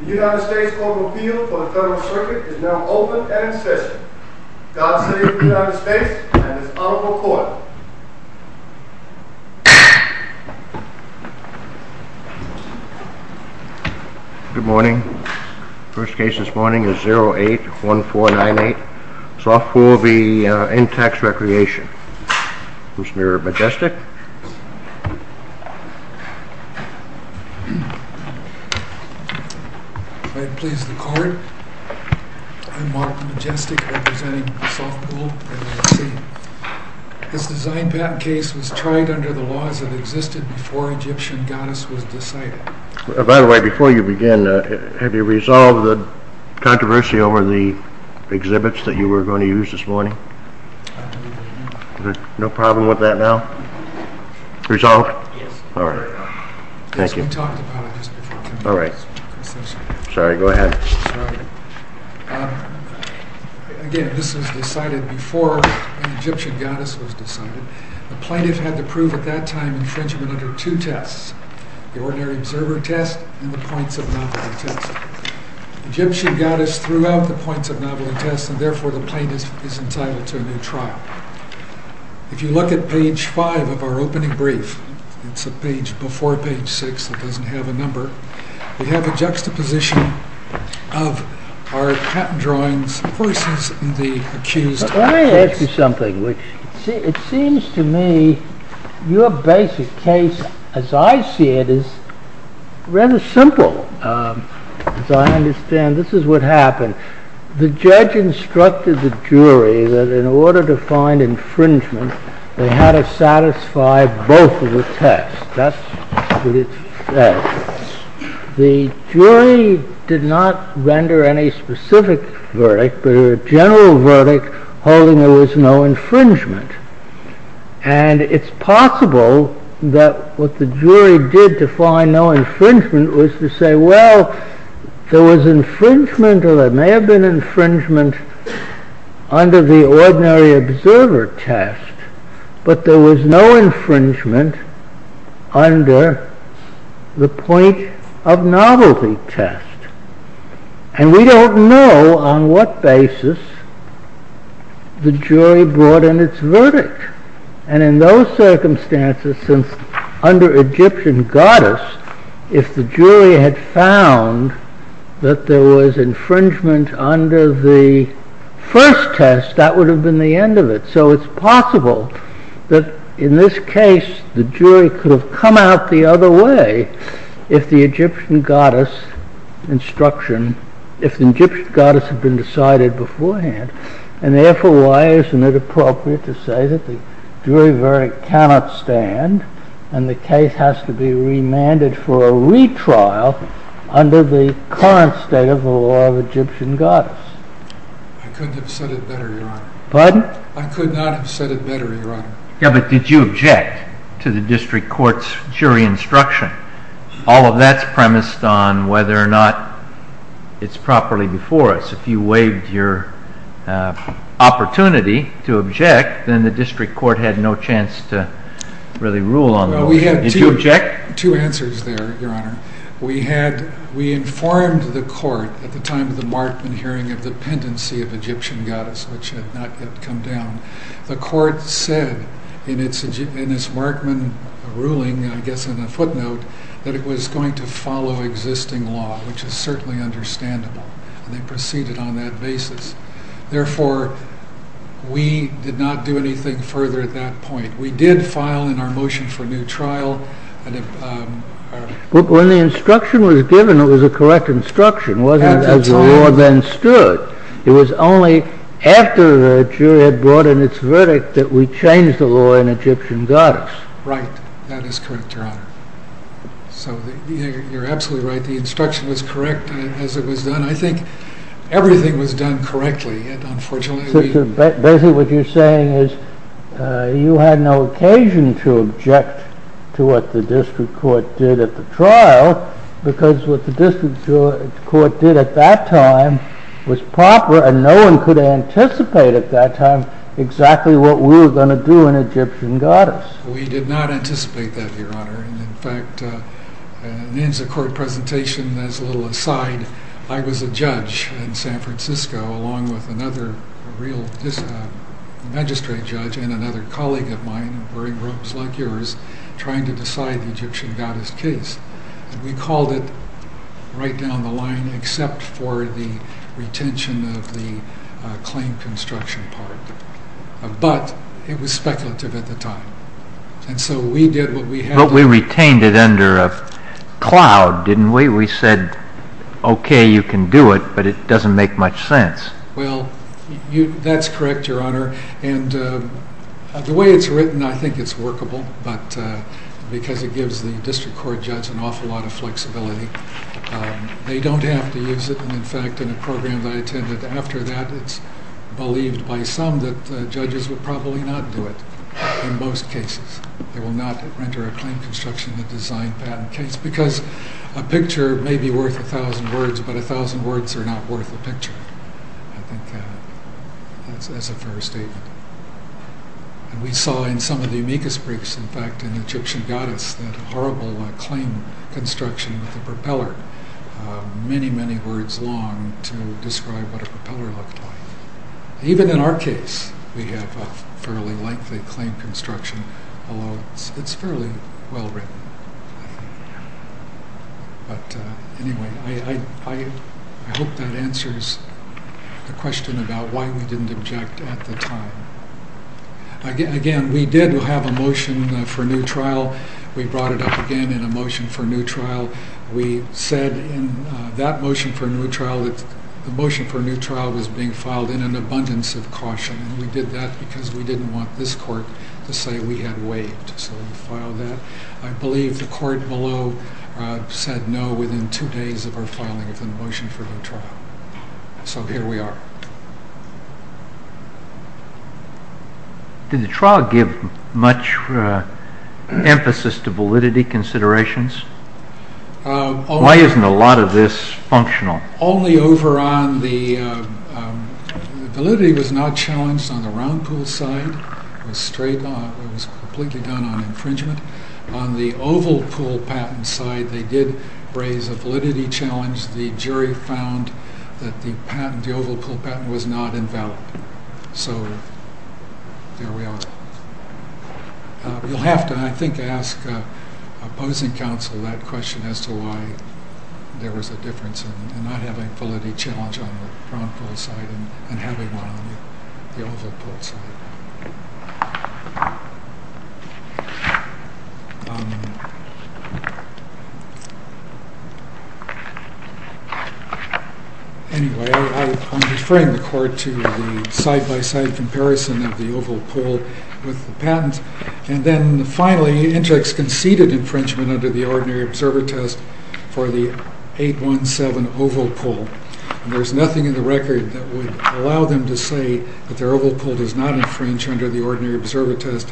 The United States Court of Appeal for the Federal Circuit is now open and in session. God save the United States and this honorable court. Good morning. The first case this morning is 08-1498, Sofpool v. Intex Recreation. Mr. Majestic. If I please the court, I'm Mark Majestic representing Sofpool. This design patent case was tried under the laws that existed before Egyptian goddess was decided. By the way, before you begin, have you resolved the controversy over the exhibits that you were going to use this morning? I believe I have. No problem with that now? Resolved? Yes. All right. Thank you. Yes, we talked about it just before. All right. Sorry, go ahead. Again, this was decided before the Egyptian goddess was decided. The plaintiff had to prove at that time infringement under two tests. The ordinary observer test and the points of novelty test. Egyptian goddess threw out the points of novelty test and therefore the plaintiff is entitled to a new trial. If you look at page 5 of our opening brief, it's a page before page 6 that doesn't have a number. We have a juxtaposition of our patent drawings versus the accused. Let me ask you something. It seems to me your basic case as I see it is rather simple. As I understand, this is what happened. The judge instructed the jury that in order to find infringement, they had to satisfy both of the tests. That's what it says. The jury did not render any specific verdict, but a general verdict holding there was no infringement. It's possible that what the jury did to find no infringement was to say, well, there was infringement or there may have been infringement under the ordinary observer test, but there was no infringement under the point of novelty test. And we don't know on what basis the jury brought in its verdict. And in those circumstances, since under Egyptian goddess, if the jury had found that there was infringement under the first test, that would have been the end of it. So it's possible that in this case the jury could have come out the other way if the Egyptian goddess had been decided beforehand. And therefore, why isn't it appropriate to say that the jury verdict cannot stand and the case has to be remanded for a retrial under the current state of the law of Egyptian goddess? Pardon? I could not have said it better, Your Honor. Yeah, but did you object to the district court's jury instruction? All of that's premised on whether or not it's properly before us. If you waived your opportunity to object, then the district court had no chance to really rule on the motion. Well, we had two answers there, Your Honor. We informed the court at the time of the Markman hearing of the pendency of Egyptian goddess, which had not yet come down. The court said in its Markman ruling, I guess in a footnote, that it was going to follow existing law, which is certainly understandable. And they proceeded on that basis. Therefore, we did not do anything further at that point. We did file in our motion for a new trial. When the instruction was given, it was a correct instruction. It wasn't as the law then stood. It was only after the jury had brought in its verdict that we changed the law in Egyptian goddess. Right. That is correct, Your Honor. So, you're absolutely right. The instruction was correct as it was done. I think everything was done correctly. Basically, what you're saying is you had no occasion to object to what the district court did at the trial because what the district court did at that time was proper and no one could anticipate at that time exactly what we were going to do in Egyptian goddess. We did not anticipate that, Your Honor. In fact, in the court presentation, as a little aside, I was a judge in San Francisco along with another magistrate judge and another colleague of mine wearing robes like yours, trying to decide the Egyptian goddess case. We called it right down the line except for the retention of the claim construction part. But it was speculative at the time. And so we did what we had to do. But we retained it under a cloud, didn't we? We said, okay, you can do it, but it doesn't make much sense. Well, that's correct, Your Honor. And the way it's written, I think it's workable because it gives the district court judge an awful lot of flexibility. They don't have to use it. In fact, in a program that I attended after that, it's believed by some that judges will probably not do it in most cases. They will not render a claim construction a design patent case because a picture may be worth a thousand words, but a thousand words are not worth a picture. I think that's a fair statement. And we saw in some of the amicus briefs, in fact, in the Egyptian goddess, that horrible claim construction with the propeller, many, many words long to describe what a propeller looked like. Even in our case, we have a fairly lengthy claim construction, although it's fairly well written. But anyway, I hope that answers the question about why we didn't object at the time. Again, we did have a motion for a new trial. We brought it up again in a motion for a new trial. We said in that motion for a new trial that the motion for a new trial was being filed in an abundance of caution, and we did that because we didn't want this court to say we had waived. So we filed that. I believe the court below said no within two days of our filing of the motion for a new trial. So here we are. Did the trial give much emphasis to validity considerations? Why isn't a lot of this functional? Only over on the validity was not challenged on the round pool side. It was completely done on infringement. On the oval pool patent side, they did raise a validity challenge. The jury found that the oval pool patent was not invalid. So there we are. You'll have to, I think, ask opposing counsel that question as to why there was a difference in not having a validity challenge on the round pool side and having one on the oval pool side. Anyway, I'm deferring the court to the side-by-side comparison of the oval pool with the patent. And then finally, Intex conceded infringement under the ordinary observer test for the 817 oval pool. And there's nothing in the record that would allow them to say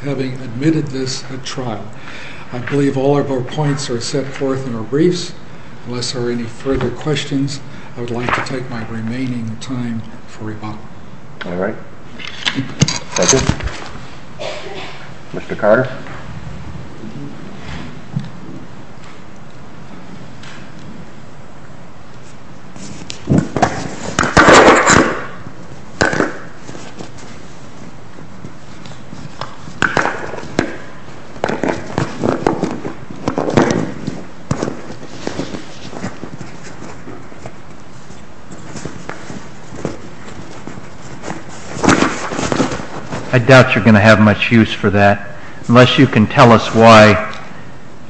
having admitted this at trial. I believe all of our points are set forth in our briefs. Unless there are any further questions, I would like to take my remaining time for rebuttal. All right. Thank you. Mr. Carter. I doubt you're going to have much use for that. Unless you can tell us why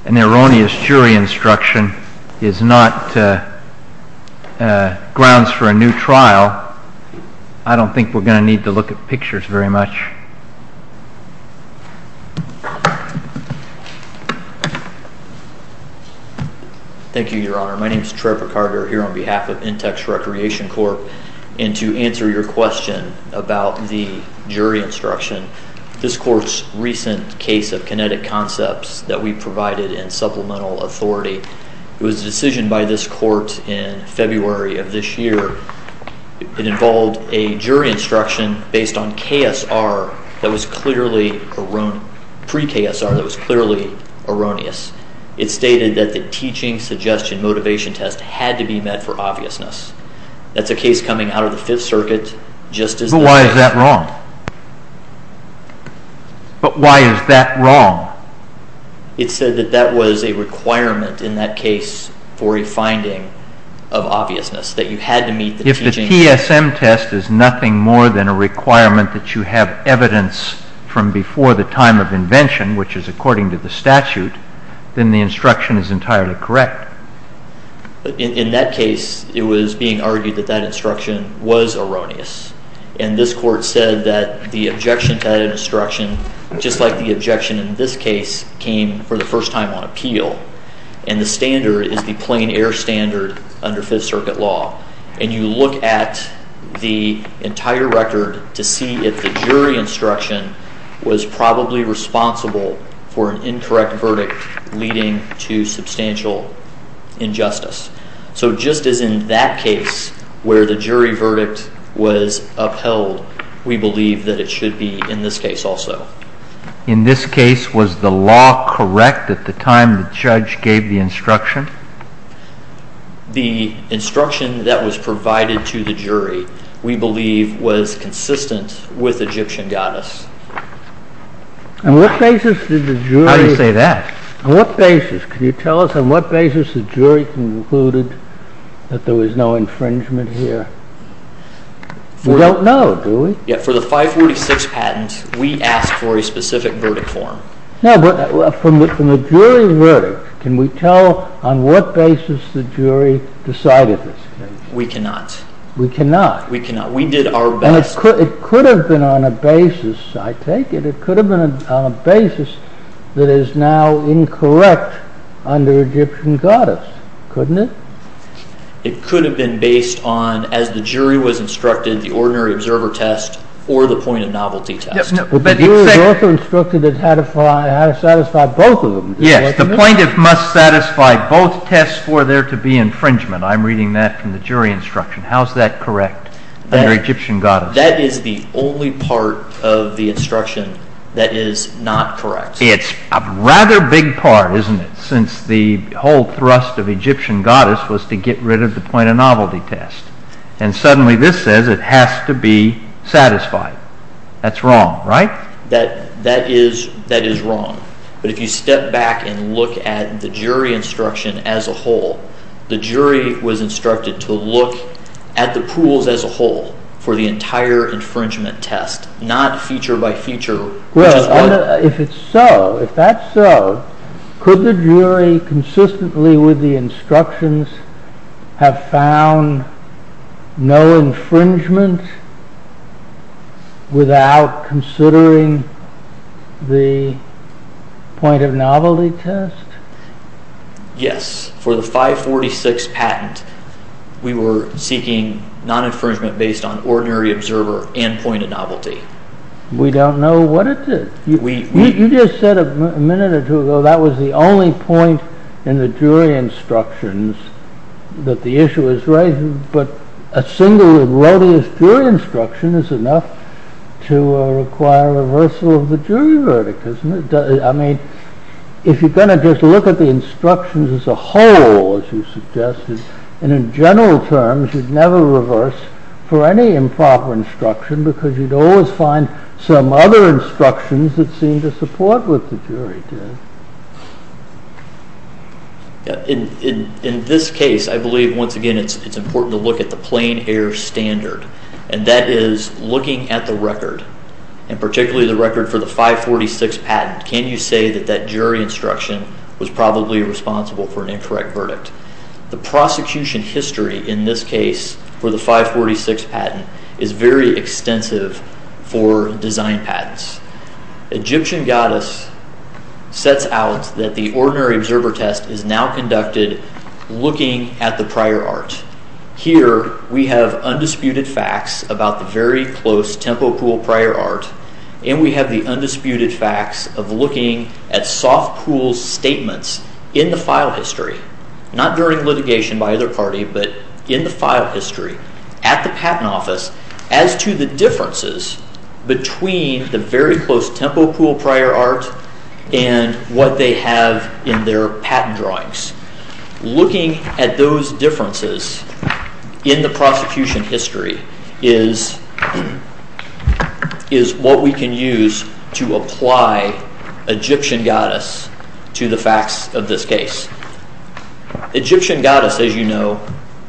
an erroneous jury instruction is not grounds for a new trial, I don't think we're going to need to look at pictures very much. Thank you, Your Honor. My name is Trevor Carter here on behalf of Intex Recreation Corp. And to answer your question about the jury instruction, this court's recent case of kinetic concepts that we provided in supplemental authority, it was a decision by this court in February of this year. It involved a jury instruction based on KSR that was clearly erroneous, pre-KSR that was clearly erroneous. It stated that the teaching suggestion motivation test had to be met for obviousness. That's a case coming out of the Fifth Circuit just as the- But why is that wrong? But why is that wrong? It said that that was a requirement in that case for a finding of obviousness, that you had to meet the teaching- If the PSM test is nothing more than a requirement that you have evidence from before the time of invention, which is according to the statute, then the instruction is entirely correct. In that case, it was being argued that that instruction was erroneous. And this court said that the objection to that instruction, just like the objection in this case, came for the first time on appeal. And the standard is the plain air standard under Fifth Circuit law. And you look at the entire record to see if the jury instruction was probably responsible for an incorrect verdict leading to substantial injustice. So just as in that case where the jury verdict was upheld, we believe that it should be in this case also. In this case, was the law correct at the time the judge gave the instruction? The instruction that was provided to the jury, we believe, was consistent with Egyptian goddess. On what basis did the jury- How do you say that? On what basis? Can you tell us on what basis the jury concluded that there was no infringement here? We don't know, do we? Yeah, for the 546 patent, we asked for a specific verdict form. No, but from a jury verdict, can we tell on what basis the jury decided this? We cannot. We cannot. We cannot. We did our best. And it could have been on a basis, I take it, it could have been on a basis that is now incorrect under Egyptian goddess, couldn't it? It could have been based on, as the jury was instructed, the ordinary observer test or the point of novelty test. But the jury was also instructed how to satisfy both of them. Yes, the plaintiff must satisfy both tests for there to be infringement. I'm reading that from the jury instruction. How is that correct under Egyptian goddess? That is the only part of the instruction that is not correct. It's a rather big part, isn't it, since the whole thrust of Egyptian goddess was to get rid of the point of novelty test. And suddenly this says it has to be satisfied. That's wrong, right? That is wrong. But if you step back and look at the jury instruction as a whole, the jury was instructed to look at the pools as a whole for the entire infringement test, not feature by feature. Well, if it's so, if that's so, could the jury consistently with the instructions have found no infringement without considering the point of novelty test? Yes, for the 546 patent, we were seeking non-infringement based on ordinary observer and point of novelty. We don't know what it is. You just said a minute or two ago that was the only point in the jury instructions that the issue is right, but a single erroneous jury instruction is enough to require reversal of the jury verdict, isn't it? I mean, if you're going to just look at the instructions as a whole, as you suggested, and in general terms you'd never reverse for any improper instruction because you'd always find some other instructions that seemed to support what the jury did. In this case, I believe once again it's important to look at the plain air standard, and that is looking at the record, and particularly the record for the 546 patent. Can you say that that jury instruction was probably responsible for an incorrect verdict? The prosecution history in this case for the 546 patent is very extensive for design patents. Egyptian goddess sets out that the ordinary observer test is now conducted looking at the prior art. Here we have undisputed facts about the very close Tempo Pool prior art, and we have the undisputed facts of looking at Soft Pool's statements in the file history, not during litigation by either party, but in the file history at the patent office, as to the differences between the very close Tempo Pool prior art and what they have in their patent drawings. Looking at those differences in the prosecution history is what we can use to apply Egyptian goddess to the facts of this case. Egyptian goddess, as you know,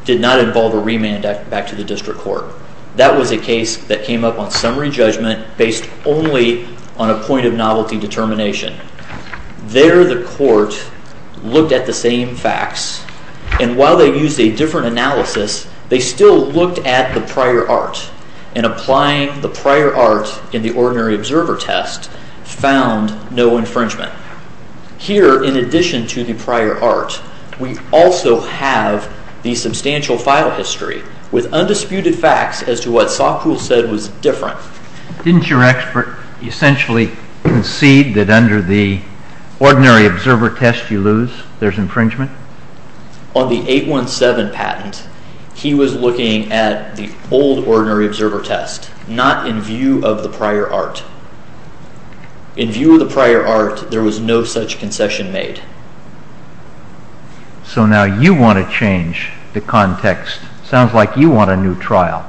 did not involve a remand back to the district court. That was a case that came up on summary judgment based only on a point of novelty determination. There the court looked at the same facts, and while they used a different analysis, they still looked at the prior art, and applying the prior art in the ordinary observer test found no infringement. Here, in addition to the prior art, we also have the substantial file history with undisputed facts as to what Soft Pool said was different. Didn't your expert essentially concede that under the ordinary observer test you lose, there's infringement? On the 817 patent, he was looking at the old ordinary observer test, not in view of the prior art. In view of the prior art, there was no such concession made. So now you want to change the context. Sounds like you want a new trial.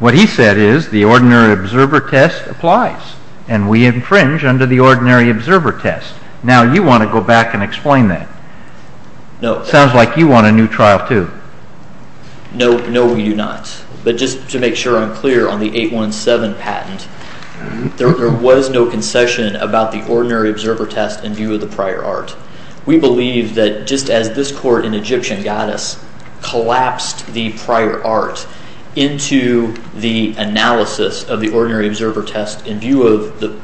What he said is the ordinary observer test applies, and we infringe under the ordinary observer test. Now you want to go back and explain that. Sounds like you want a new trial too. No, we do not. But just to make sure I'm clear on the 817 patent, there was no concession about the ordinary observer test in view of the prior art. We believe that just as this court in Egyptian goddess collapsed the prior art into the analysis of the ordinary observer test in view of the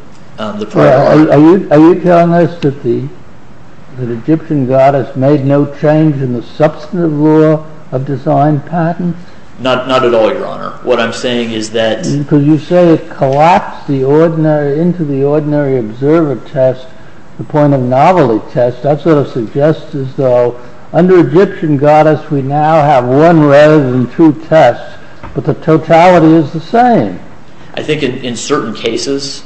prior art. Are you telling us that the Egyptian goddess made no change in the substantive law of design patents? Not at all, your honor. What I'm saying is that... Because you say it collapsed into the ordinary observer test, the point of novelty test. That sort of suggests as though under Egyptian goddess we now have one rather than two tests, but the totality is the same. I think in certain cases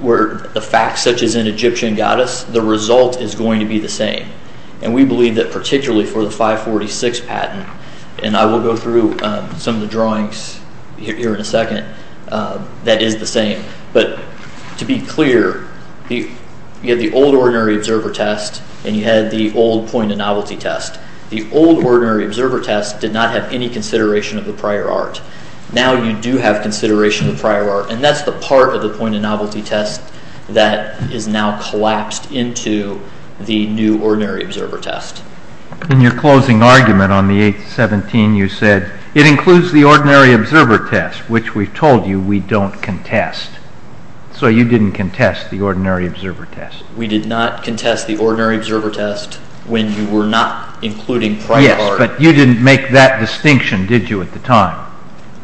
where the facts such as in Egyptian goddess, the result is going to be the same. And we believe that particularly for the 546 patent, and I will go through some of the drawings here in a second, that is the same. But to be clear, you had the old ordinary observer test and you had the old point of novelty test. The old ordinary observer test did not have any consideration of the prior art. Now you do have consideration of prior art, and that's the part of the point of novelty test that is now collapsed into the new ordinary observer test. In your closing argument on the 817, you said it includes the ordinary observer test, which we've told you we don't contest. So you didn't contest the ordinary observer test. We did not contest the ordinary observer test when you were not including prior art. But you didn't make that distinction, did you, at the time?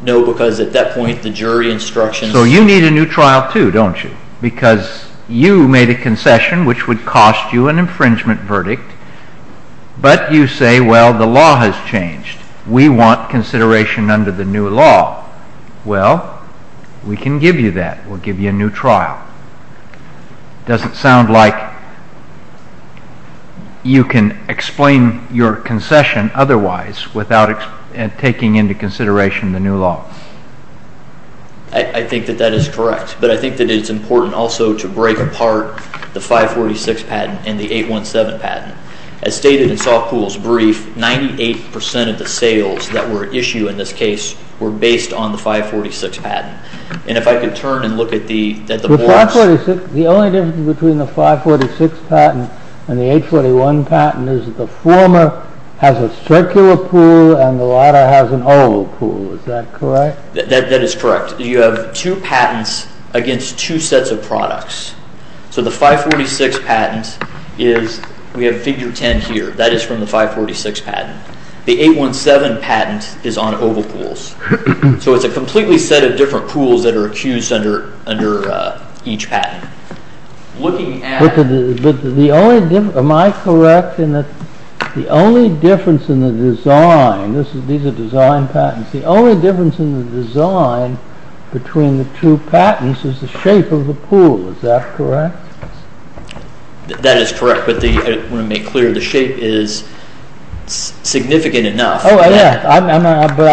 No, because at that point the jury instructions... So you need a new trial too, don't you? Because you made a concession which would cost you an infringement verdict, but you say, well, the law has changed. We want consideration under the new law. Well, we can give you that. We'll give you a new trial. It doesn't sound like you can explain your concession otherwise without taking into consideration the new law. I think that that is correct, but I think that it's important also to break apart the 546 patent and the 817 patent. As stated in Saul Poole's brief, 98% of the sales that were issued in this case were based on the 546 patent. And if I could turn and look at the boards... The only difference between the 546 patent and the 841 patent is that the former has a circular pool and the latter has an oval pool. Is that correct? That is correct. You have two patents against two sets of products. So the 546 patent is... We have figure 10 here. That is from the 546 patent. The 817 patent is on oval pools. So it's a completely set of different pools that are accused under each patent. Am I correct in that the only difference in the design... These are design patents. The only difference in the design between the two patents is the shape of the pool. Is that correct? That is correct, but I want to make clear the shape is significant enough. I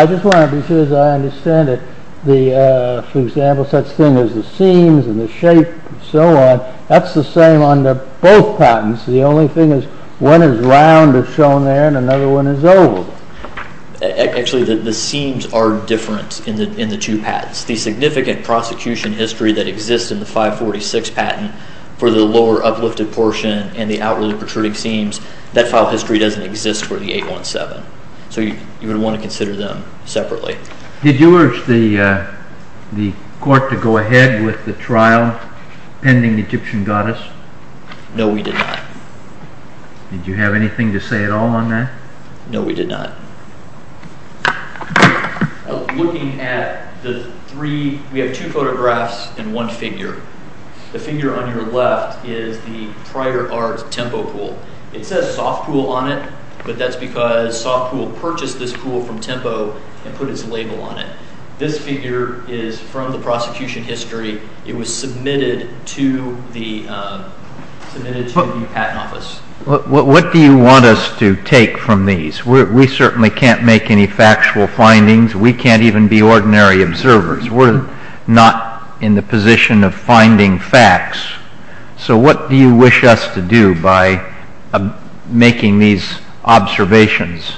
just want to be sure that I understand it. For example, such thing as the seams and the shape and so on, that's the same on both patents. The only thing is one is round as shown there and another one is oval. Actually, the seams are different in the two patents. The significant prosecution history that exists in the 546 patent for the lower uplifted portion and the outwardly protruding seams, that file history doesn't exist for the 817. So you would want to consider them separately. Did you urge the court to go ahead with the trial pending the Egyptian goddess? No, we did not. Did you have anything to say at all on that? No, we did not. We have two photographs and one figure. The figure on your left is the Prior Arts Tempo Pool. It says Soft Pool on it, but that's because Soft Pool purchased this pool from Tempo and put its label on it. This figure is from the prosecution history. It was submitted to the patent office. What do you want us to take from these? We certainly can't make any factual findings. We can't even be ordinary observers. We're not in the position of finding facts. So what do you wish us to do by making these observations?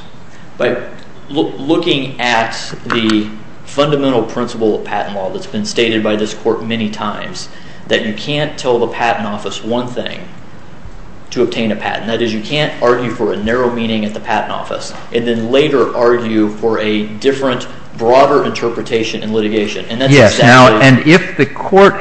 By looking at the fundamental principle of patent law that's been stated by this court many times, that you can't tell the patent office one thing to obtain a patent. That is, you can't argue for a narrow meaning at the patent office and then later argue for a different, broader interpretation in litigation. If the court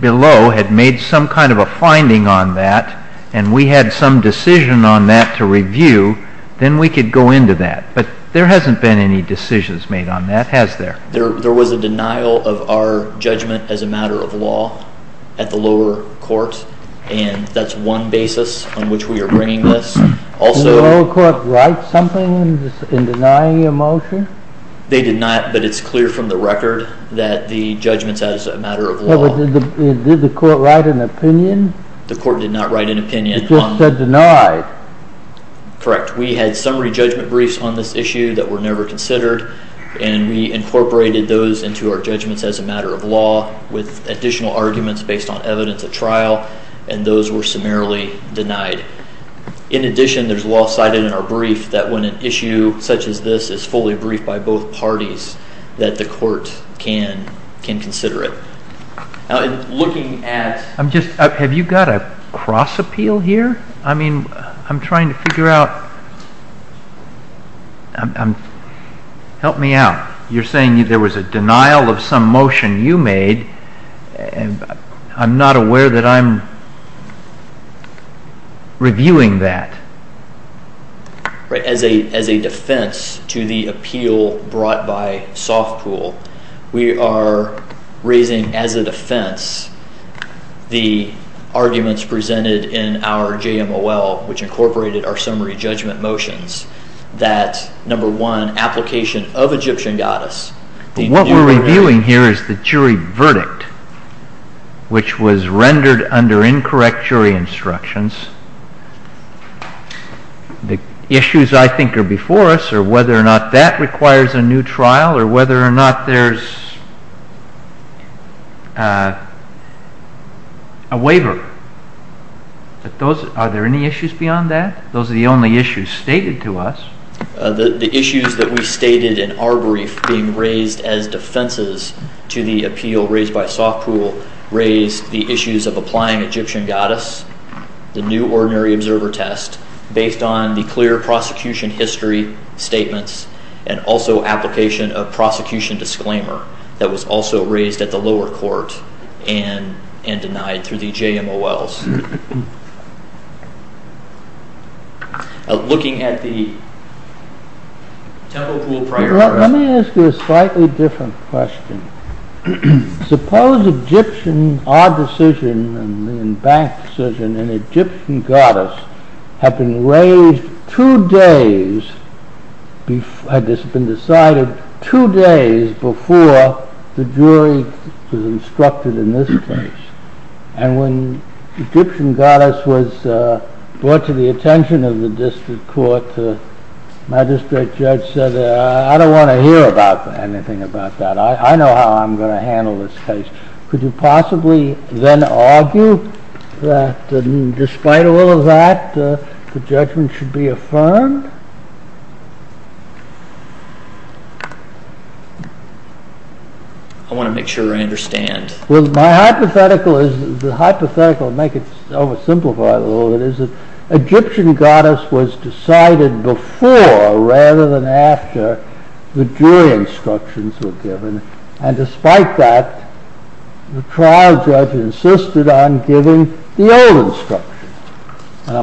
below had made some kind of a finding on that and we had some decision on that to review, then we could go into that. But there hasn't been any decisions made on that, has there? There was a denial of our judgment as a matter of law at the lower court. That's one basis on which we are bringing this. Did the lower court write something in denying your motion? They did not, but it's clear from the record that the judgment's as a matter of law. Did the court write an opinion? The court did not write an opinion. It just said denied. Correct. We had summary judgment briefs on this issue that were never considered, and we incorporated those into our judgments as a matter of law with additional arguments based on evidence at trial, and those were summarily denied. In addition, there's law cited in our brief that when an issue such as this is fully briefed by both parties, that the court can consider it. Have you got a cross-appeal here? I'm trying to figure out. Help me out. You're saying there was a denial of some motion you made. I'm not aware that I'm reviewing that. As a defense to the appeal brought by Softpool, we are raising as a defense the arguments presented in our JMOL, which incorporated our summary judgment motions, that number one, application of Egyptian goddess. What we're reviewing here is the jury verdict, which was rendered under incorrect jury instructions. The issues, I think, are before us, are whether or not that requires a new trial or whether or not there's a waiver. Are there any issues beyond that? Those are the only issues stated to us. The issues that we stated in our brief being raised as defenses to the appeal raised by Softpool raised the issues of applying Egyptian goddess, the new ordinary observer test, based on the clear prosecution history statements, and also application of prosecution disclaimer that was also raised at the lower court and denied through the JMOLs. Looking at the Temple Pool trial... Let me ask you a slightly different question. Suppose Egyptian, our decision, and the bank's decision, and Egyptian goddess have been raised two days, had this been decided two days before the jury was instructed in this case. And when Egyptian goddess was brought to the attention of the district court, the magistrate judge said, I don't want to hear anything about that. I know how I'm going to handle this case. Could you possibly then argue that, despite all of that, the judgment should be affirmed? I want to make sure I understand. My hypothetical, to make it oversimplified a little bit, is that Egyptian goddess was decided before, rather than after, the jury instructions were given. And despite that, the trial judge insisted on giving the old instructions.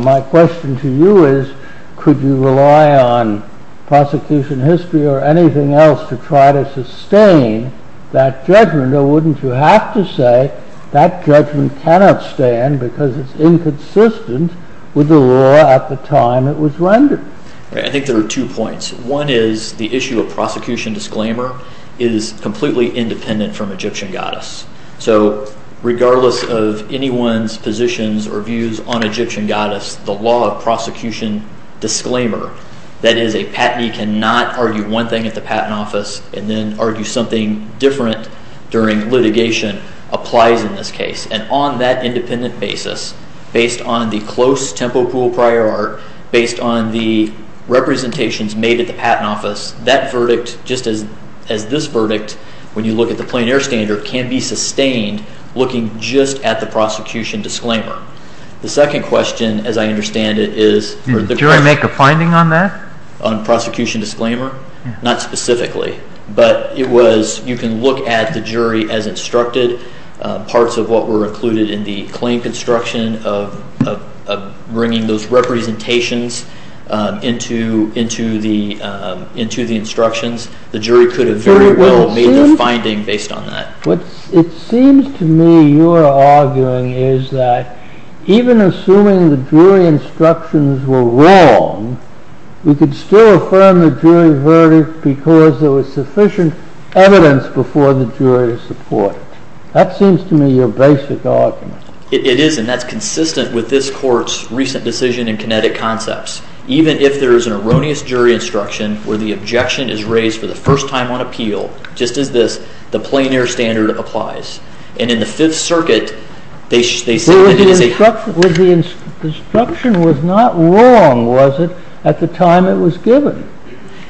My question to you is, could you rely on prosecution history or anything else to try to sustain that judgment or wouldn't you have to say that judgment cannot stand because it's inconsistent with the law at the time it was rendered? I think there are two points. One is the issue of prosecution disclaimer is completely independent from Egyptian goddess. So regardless of anyone's positions or views on Egyptian goddess, the law of prosecution disclaimer, that is a patentee cannot argue one thing at the patent office and then argue something different during litigation applies in this case. And on that independent basis, based on the close tempo pool prior art, based on the representations made at the patent office, that verdict, just as this verdict, when you look at the plein air standard, can be sustained looking just at the prosecution disclaimer. The second question, as I understand it, is... Do you want to make a finding on that? On prosecution disclaimer? Not specifically. But you can look at the jury as instructed. Parts of what were included in the claim construction of bringing those representations into the instructions. The jury could have very well made their finding based on that. What it seems to me you are arguing is that even assuming the jury instructions were wrong, we could still affirm the jury verdict because there was sufficient evidence before the jury to support it. That seems to me your basic argument. It is, and that's consistent with this court's recent decision in kinetic concepts. Even if there is an erroneous jury instruction where the objection is raised for the first time on appeal, just as this, the plein air standard applies. And in the Fifth Circuit, they say that it is a... The instruction was not wrong, was it, at the time it was given?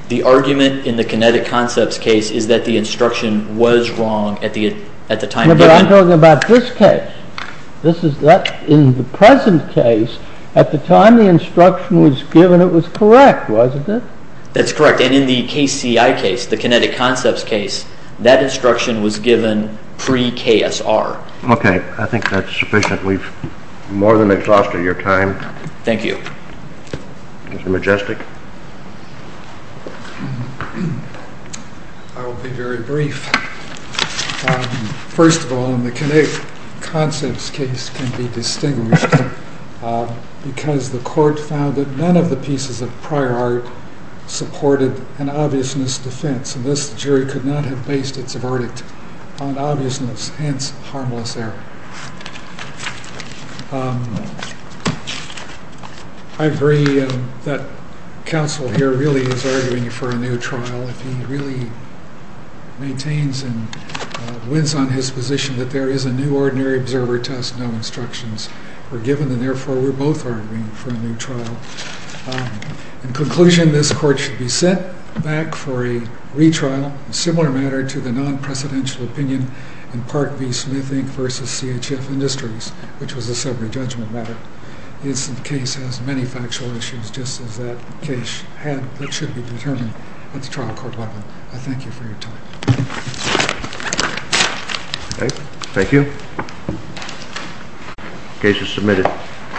The argument in the kinetic concepts case is that the instruction was wrong at the time it was given. But I'm talking about this case. In the present case, at the time the instruction was given, it was correct, wasn't it? That's correct, and in the KCI case, the kinetic concepts case, that instruction was given pre-KSR. Okay, I think that's sufficient. We've more than exhausted your time. Thank you. Mr. Majestic. I'll be very brief. First of all, in the kinetic concepts case can be distinguished because the court found that none of the pieces of prior art supported an obviousness defense, and this jury could not have based its verdict on obviousness, hence harmless error. I agree that counsel here really is arguing for a new trial. He really maintains and wins on his position that there is a new ordinary observer test, no instructions were given, and therefore we're both arguing for a new trial. In conclusion, this court should be sent back for a retrial, a similar matter to the non-presidential opinion in Park v. Smith Inc. v. CHF Industries, which was a summary judgment matter. This case has many factual issues, just as that case should be determined at the trial court level. I thank you for your time. Okay, thank you. Case is submitted.